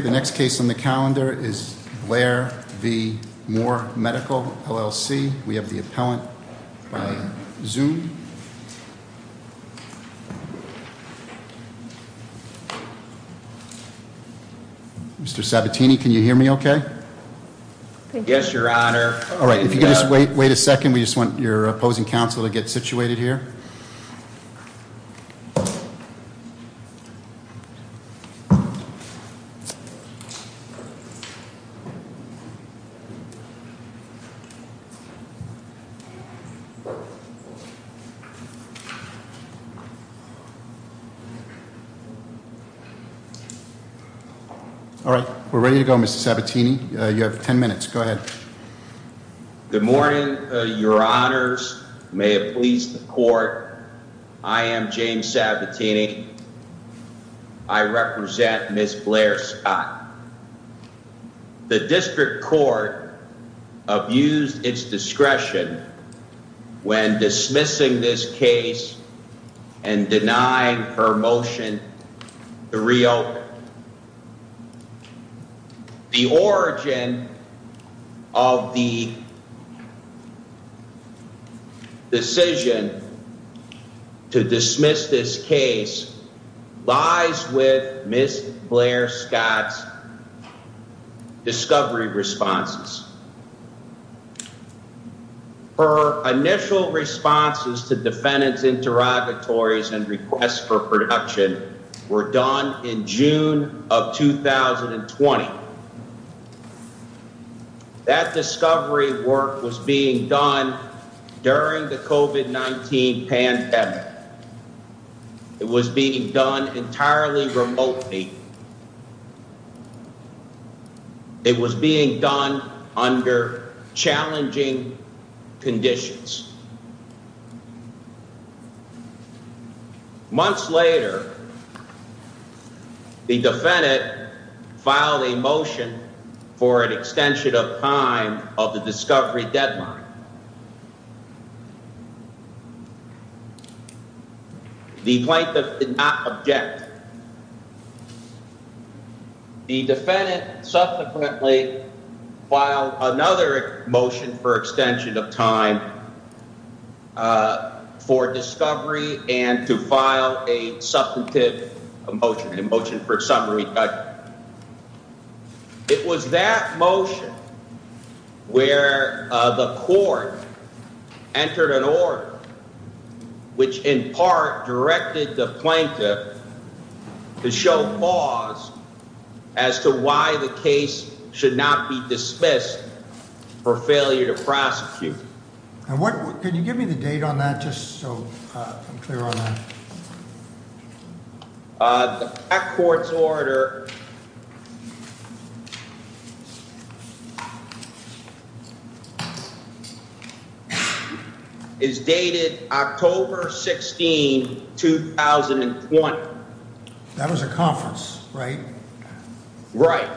The next case on the calendar is Blair v. Moore Medical, LLC. We have the appellant by Zoom. Mr. Sabatini, can you hear me okay? Yes, Your Honor. If you could just wait a second. We just want your opposing counsel to get situated here. All right. We're ready to go, Mr. Sabatini. You have 10 minutes. Go ahead. Good morning, Your Honors. May it please the Court, I am James Sabatini. I represent Ms. Blair Scott. The District Court abused its discretion when dismissing this case and denying her motion to reopen. The origin of the decision to dismiss this case lies with Ms. Blair Scott's discovery responses. Her initial responses to defendant's interrogatories and requests for protection were done in June of 2020. That discovery work was being done during the COVID-19 pandemic. It was being done entirely remotely. It was being done under challenging conditions. Months later, the defendant filed a motion for an extension of time of the discovery deadline. The plaintiff did not object. The defendant subsequently filed another motion for extension of time for discovery and to file a substantive motion, a motion for summary judgment. It was that motion where the court entered an order, which in part directed the plaintiff to show pause as to why the case should not be dismissed for failure to prosecute. Can you give me the date on that, just so I'm clear on that? The back court's order is dated October 16, 2020. That was a conference, right? Right.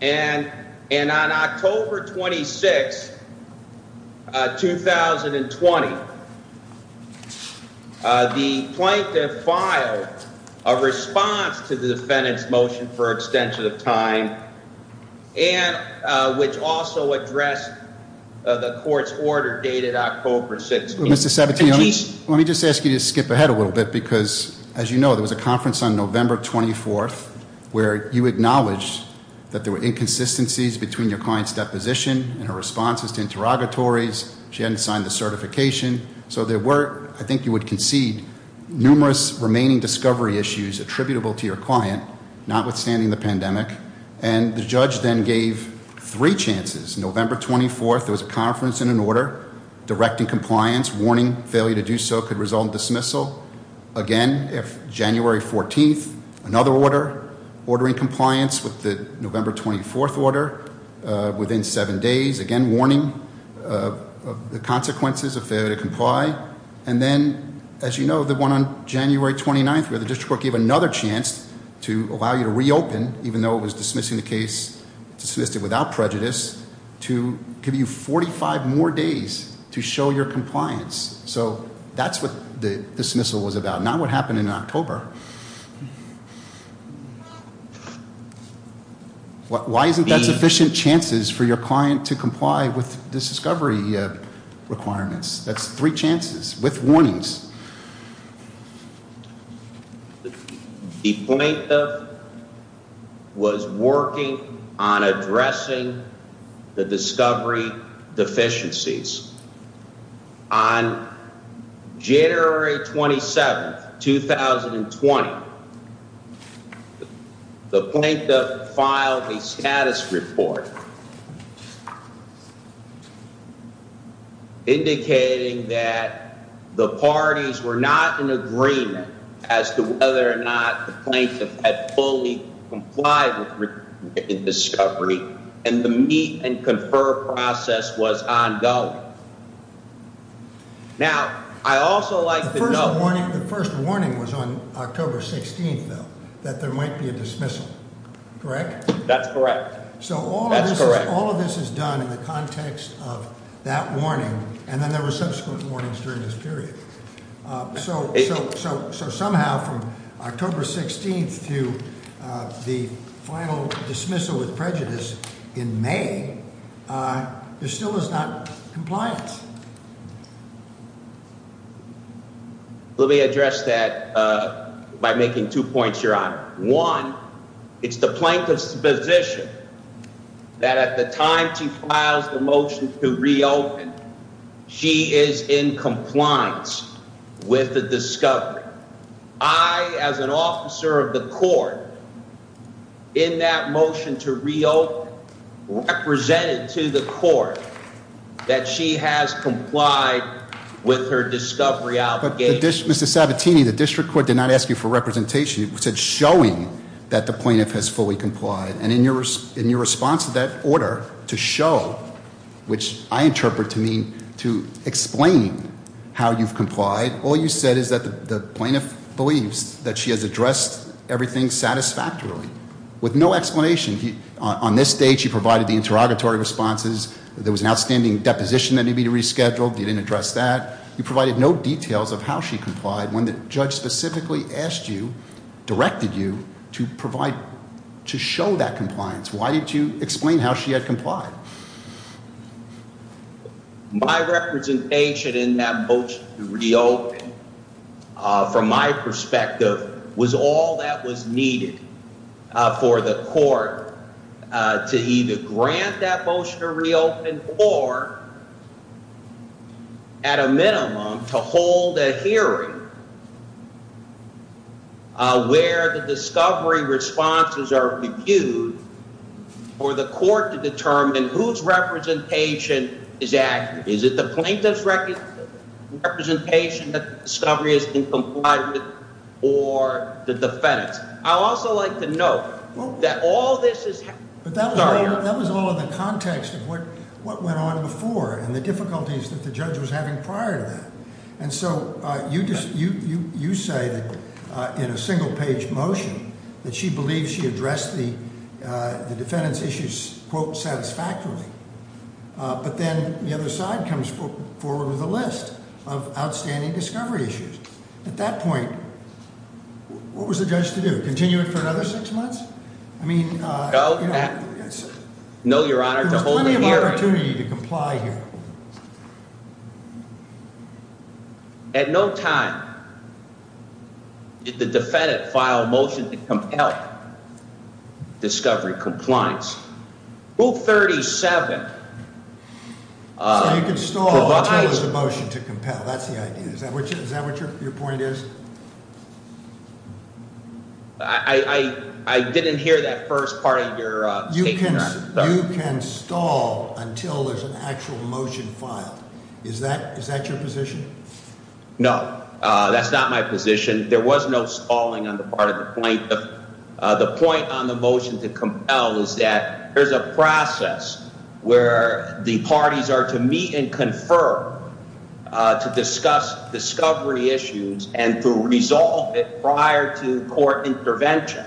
And on October 26, 2020, the plaintiff filed a response to the defendant's motion for extension of time, which also addressed the court's order dated October 16. Mr. Sabatino, let me just ask you to skip ahead a little bit because, as you know, there was a conference on November 24th where you acknowledged that there were inconsistencies between your client's deposition and her responses to interrogatories. She hadn't signed the certification. So there were, I think you would concede, numerous remaining discovery issues attributable to your client, notwithstanding the pandemic. And the judge then gave three chances. November 24th, there was a conference and an order directing compliance, warning failure to do so could result in dismissal. Again, January 14th, another order ordering compliance with the November 24th order within seven days. Again, warning of the consequences of failure to comply. Right? And then, as you know, the one on January 29th where the district court gave another chance to allow you to reopen, even though it was dismissing the case, dismissed it without prejudice, to give you 45 more days to show your compliance. So that's what the dismissal was about, not what happened in October. Why isn't that sufficient chances for your client to comply with the discovery requirements? That's three chances with warnings. The plaintiff was working on addressing the discovery deficiencies. On January 27th, 2020, the plaintiff filed a status report. Indicating that the parties were not in agreement as to whether or not the plaintiff had fully complied with discovery and the meet and confer process was ongoing. Now, I also like the first warning was on October 16th, though, that there might be a dismissal. Correct? That's correct. So all of this is done in the context of that warning, and then there were subsequent warnings during this period. So somehow, from October 16th to the final dismissal with prejudice in May, there still was not compliance. Let me address that by making two points, Your Honor. One, it's the plaintiff's position that at the time she files the motion to reopen, she is in compliance with the discovery. I, as an officer of the court, in that motion to reopen, represented to the court that she has complied with her discovery obligation. Mr. Sabatini, the district court did not ask you for representation. It said showing that the plaintiff has fully complied. And in your response to that order, to show, which I interpret to mean to explain how you've complied, all you said is that the plaintiff believes that she has addressed everything satisfactorily with no explanation. On this stage, you provided the interrogatory responses. There was an outstanding deposition that needed to be rescheduled. You didn't address that. You provided no details of how she complied when the judge specifically asked you, directed you, to provide, to show that compliance. Why didn't you explain how she had complied? My representation in that motion to reopen, from my perspective, was all that was needed for the court to either grant that motion to reopen or, at a minimum, to hold a hearing where the discovery responses are reviewed for the court to determine whose representation is accurate. Is it the plaintiff's representation that the discovery has been complied with or the defendant's? I'd also like to note that all this is- But that was all in the context of what went on before and the difficulties that the judge was having prior to that. And so you say that, in a single-page motion, that she believes she addressed the defendant's issues, quote, satisfactorily. But then the other side comes forward with a list of outstanding discovery issues. At that point, what was the judge to do? Continue it for another six months? I mean- No, Your Honor, to hold a hearing. There was plenty of opportunity to comply here. At no time did the defendant file a motion to compel discovery compliance. Rule 37- So you could stall until there's a motion to compel. That's the idea. Is that what your point is? I didn't hear that first part of your statement, Your Honor. You can stall until there's an actual motion filed. Is that your position? No, that's not my position. There was no stalling on the part of the plaintiff. The point on the motion to compel is that there's a process where the parties are to meet and confer to discuss discovery issues and to resolve it prior to court intervention.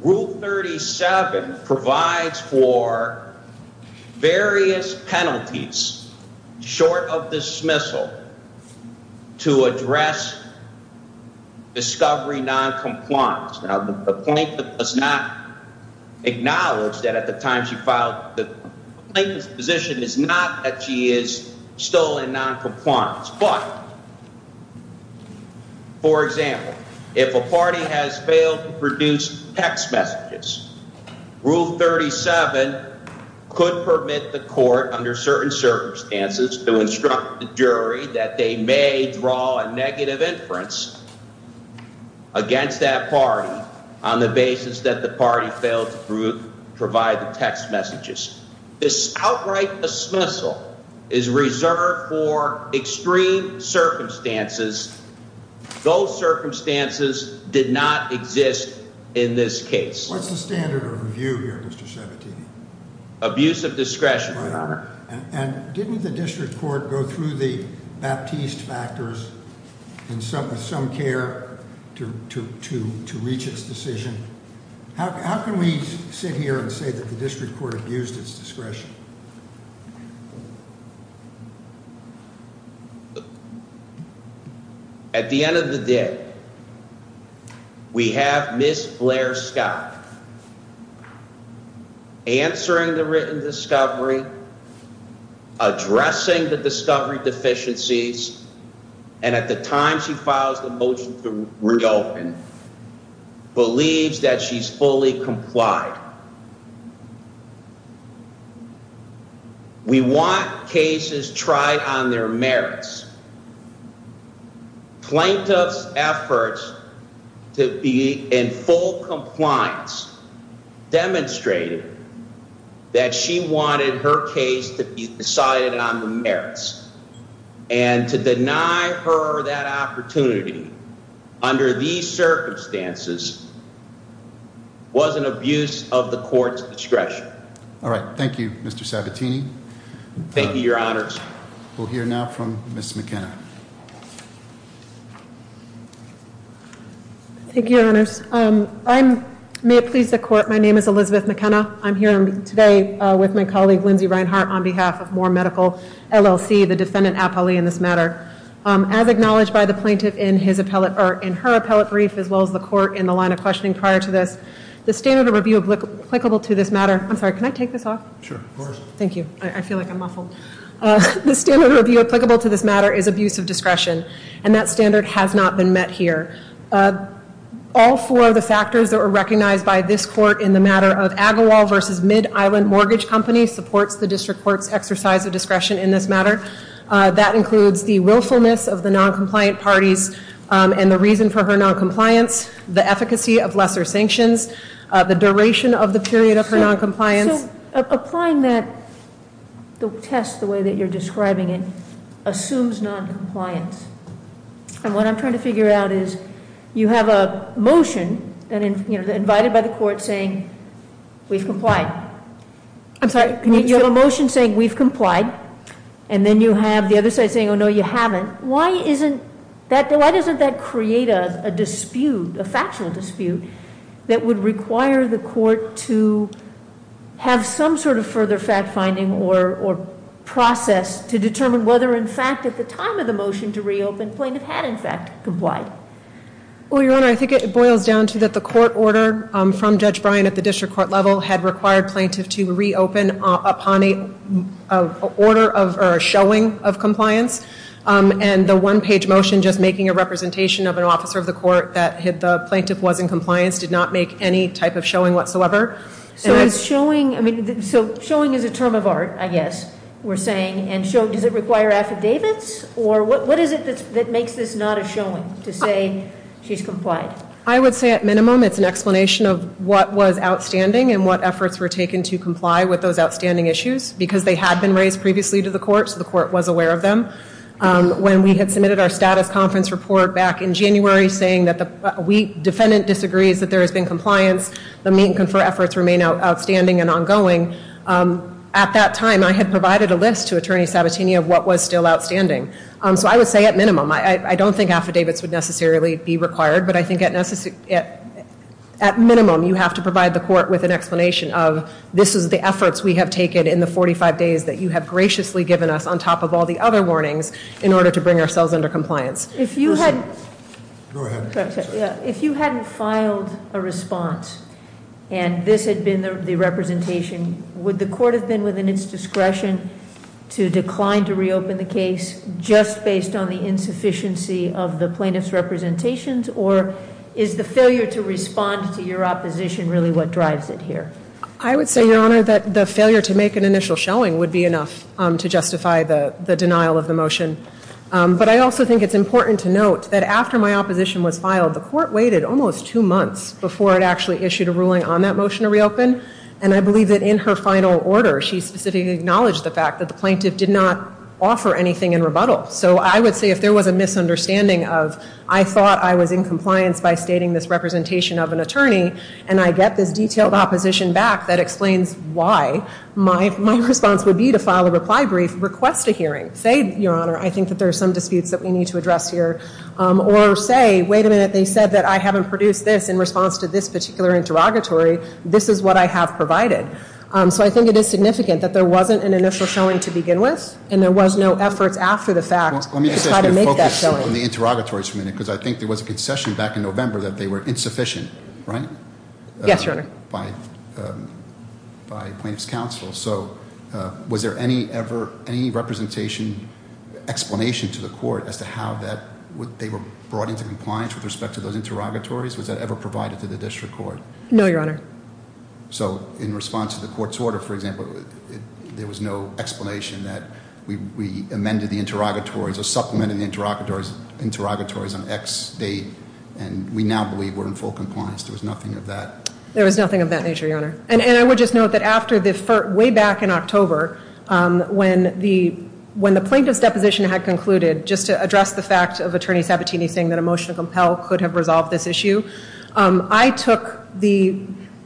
Rule 37 provides for various penalties short of dismissal to address discovery noncompliance. Now, the plaintiff does not acknowledge that at the time she filed- The plaintiff's position is not that she is still in noncompliance. But, for example, if a party has failed to produce text messages, Rule 37 could permit the court, under certain circumstances, to instruct the jury that they may draw a negative inference against that party on the basis that the party failed to provide the text messages. This outright dismissal is reserved for extreme circumstances. Those circumstances did not exist in this case. What's the standard of review here, Mr. Sabatini? Didn't the district court go through the Baptiste factors with some care to reach its decision? How can we sit here and say that the district court used its discretion? At the end of the day, we have Ms. Blair Scott. Answering the written discovery, addressing the discovery deficiencies, and at the time she files the motion to reopen, believes that she's fully complied. We want cases tried on their merits. Plaintiff's efforts to be in full compliance demonstrated that she wanted her case to be decided on the merits. And to deny her that opportunity under these circumstances was an abuse of the court's discretion. All right. Thank you, Mr. Sabatini. Thank you, Your Honors. We'll hear now from Ms. McKenna. Thank you, Your Honors. May it please the court, my name is Elizabeth McKenna. I'm here today with my colleague, Lindsay Reinhart, on behalf of Moore Medical LLC, the defendant appellee in this matter. As acknowledged by the plaintiff in her appellate brief, as well as the court in the line of questioning prior to this, the standard of review applicable to this matter, I'm sorry, can I take this off? Sure, of course. Thank you. I feel like I'm muffled. The standard of review applicable to this matter is abuse of discretion, and that standard has not been met here. All four of the factors that were recognized by this court in the matter of Agawam versus Mid-Island Mortgage Company supports the district court's exercise of discretion in this matter. That includes the willfulness of the noncompliant parties and the reason for her noncompliance, the efficacy of lesser sanctions, the duration of the period of her noncompliance. So applying that test the way that you're describing it assumes noncompliance. And what I'm trying to figure out is you have a motion, you know, invited by the court saying we've complied. I'm sorry. You have a motion saying we've complied, and then you have the other side saying, oh, no, you haven't. Why doesn't that create a dispute, a factual dispute, that would require the court to have some sort of further fact-finding or process to determine whether, in fact, at the time of the motion to reopen, plaintiff had, in fact, complied? Well, Your Honor, I think it boils down to that the court order from Judge Bryan at the district court level had required plaintiff to reopen upon a showing of compliance. And the one-page motion just making a representation of an officer of the court that the plaintiff was in compliance did not make any type of showing whatsoever. So showing is a term of art, I guess we're saying, and does it require affidavits? Or what is it that makes this not a showing to say she's complied? I would say at minimum it's an explanation of what was outstanding and what efforts were taken to comply with those outstanding issues because they had been raised previously to the court, so the court was aware of them. When we had submitted our status conference report back in January saying that the defendant disagrees that there has been compliance, the meet and confer efforts remain outstanding and ongoing, at that time I had provided a list to Attorney Sabatini of what was still outstanding. So I would say at minimum. I don't think affidavits would necessarily be required, but I think at minimum you have to provide the court with an explanation of this is the efforts we have taken in the 45 days that you have graciously given us on top of all the other warnings in order to bring ourselves under compliance. Go ahead. If you hadn't filed a response and this had been the representation, would the court have been within its discretion to decline to reopen the case just based on the insufficiency of the plaintiff's representations or is the failure to respond to your opposition really what drives it here? I would say, Your Honor, that the failure to make an initial showing would be enough to justify the denial of the motion. But I also think it's important to note that after my opposition was filed, the court waited almost two months before it actually issued a ruling on that motion to reopen, and I believe that in her final order she specifically acknowledged the fact that the plaintiff did not offer anything in rebuttal. So I would say if there was a misunderstanding of, I thought I was in compliance by stating this representation of an attorney and I get this detailed opposition back that explains why, my response would be to file a reply brief, request a hearing, say, Your Honor, I think that there are some disputes that we need to address here, or say, wait a minute, they said that I haven't produced this in response to this particular interrogatory. This is what I have provided. So I think it is significant that there wasn't an initial showing to begin with and there was no efforts after the fact to try to make that showing. Let me just ask you to focus on the interrogatories for a minute because I think there was a concession back in November that they were insufficient, right? Yes, Your Honor. By plaintiff's counsel. So was there any representation, explanation to the court as to how that, they were brought into compliance with respect to those interrogatories? Was that ever provided to the district court? No, Your Honor. So in response to the court's order, for example, there was no explanation that we amended the interrogatories or supplemented the interrogatories on X date and we now believe we're in full compliance. There was nothing of that. There was nothing of that nature, Your Honor. And I would just note that after the, way back in October, when the plaintiff's deposition had concluded, just to address the fact of Attorney Sabatini saying that a motion to compel could have resolved this issue, I took the,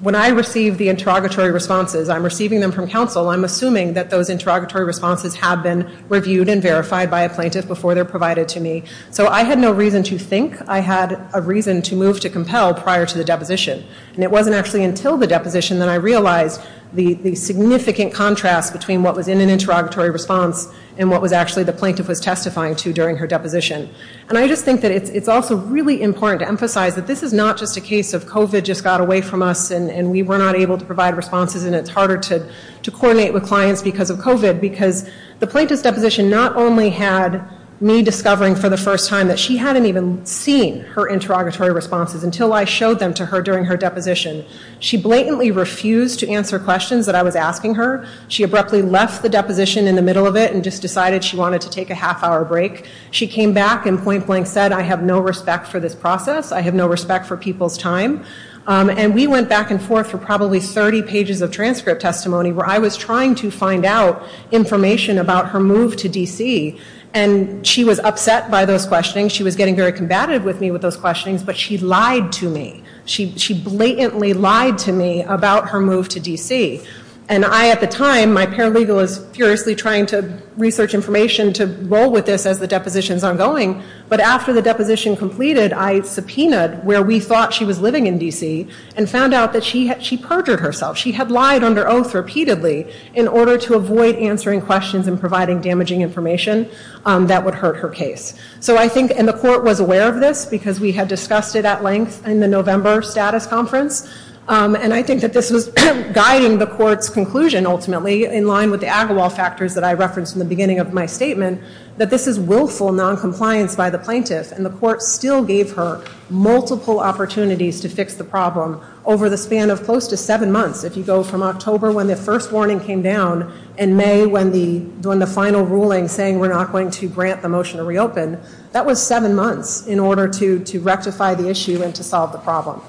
when I receive the interrogatory responses, I'm receiving them from counsel, I'm assuming that those interrogatory responses have been reviewed and verified by a plaintiff before they're provided to me. So I had no reason to think I had a reason to move to compel prior to the deposition. And it wasn't actually until the deposition that I realized the significant contrast between what was in an interrogatory response and what was actually the plaintiff was testifying to during her deposition. And I just think that it's also really important to emphasize that this is not just a case of COVID just got away from us and we were not able to provide responses and it's harder to coordinate with clients because of COVID because the plaintiff's deposition not only had me discovering for the first time that she hadn't even seen her interrogatory responses until I showed them to her during her deposition. She blatantly refused to answer questions that I was asking her. She abruptly left the deposition in the middle of it and just decided she wanted to take a half hour break. She came back and point blank said, I have no respect for this process. I have no respect for people's time. And we went back and forth for probably 30 pages of transcript testimony where I was trying to find out information about her move to D.C. And she was upset by those questionings. She was getting very combative with me with those questionings, but she lied to me. She blatantly lied to me about her move to D.C. And I, at the time, my paralegal, was furiously trying to research information to roll with this as the deposition's ongoing. But after the deposition completed, I subpoenaed where we thought she was living in D.C. and found out that she perjured herself. She had lied under oath repeatedly in order to avoid answering questions and providing damaging information that would hurt her case. And the court was aware of this because we had discussed it at length in the November status conference. And I think that this was guiding the court's conclusion, ultimately, in line with the Agawam factors that I referenced in the beginning of my statement, that this is willful noncompliance by the plaintiff. And the court still gave her multiple opportunities to fix the problem over the span of close to seven months. If you go from October when the first warning came down and May when the final ruling saying we're not going to grant the motion to reopen, that was seven months in order to rectify the issue and to solve the problem.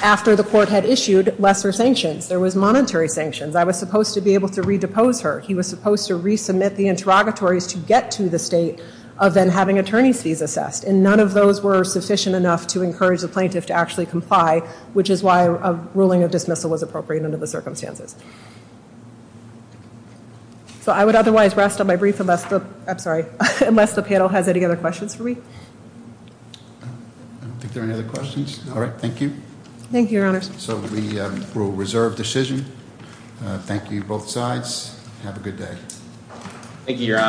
After the court had issued lesser sanctions, there was monetary sanctions. I was supposed to be able to redepose her. He was supposed to resubmit the interrogatories to get to the state of then having attorney's fees assessed. And none of those were sufficient enough to encourage the plaintiff to actually comply, which is why a ruling of dismissal was appropriate under the circumstances. So I would otherwise rest on my brief unless the panel has any other questions for me. I don't think there are any other questions. All right, thank you. Thank you, Your Honors. So we will reserve decision. Thank you, both sides. Have a good day. Thank you, Your Honors.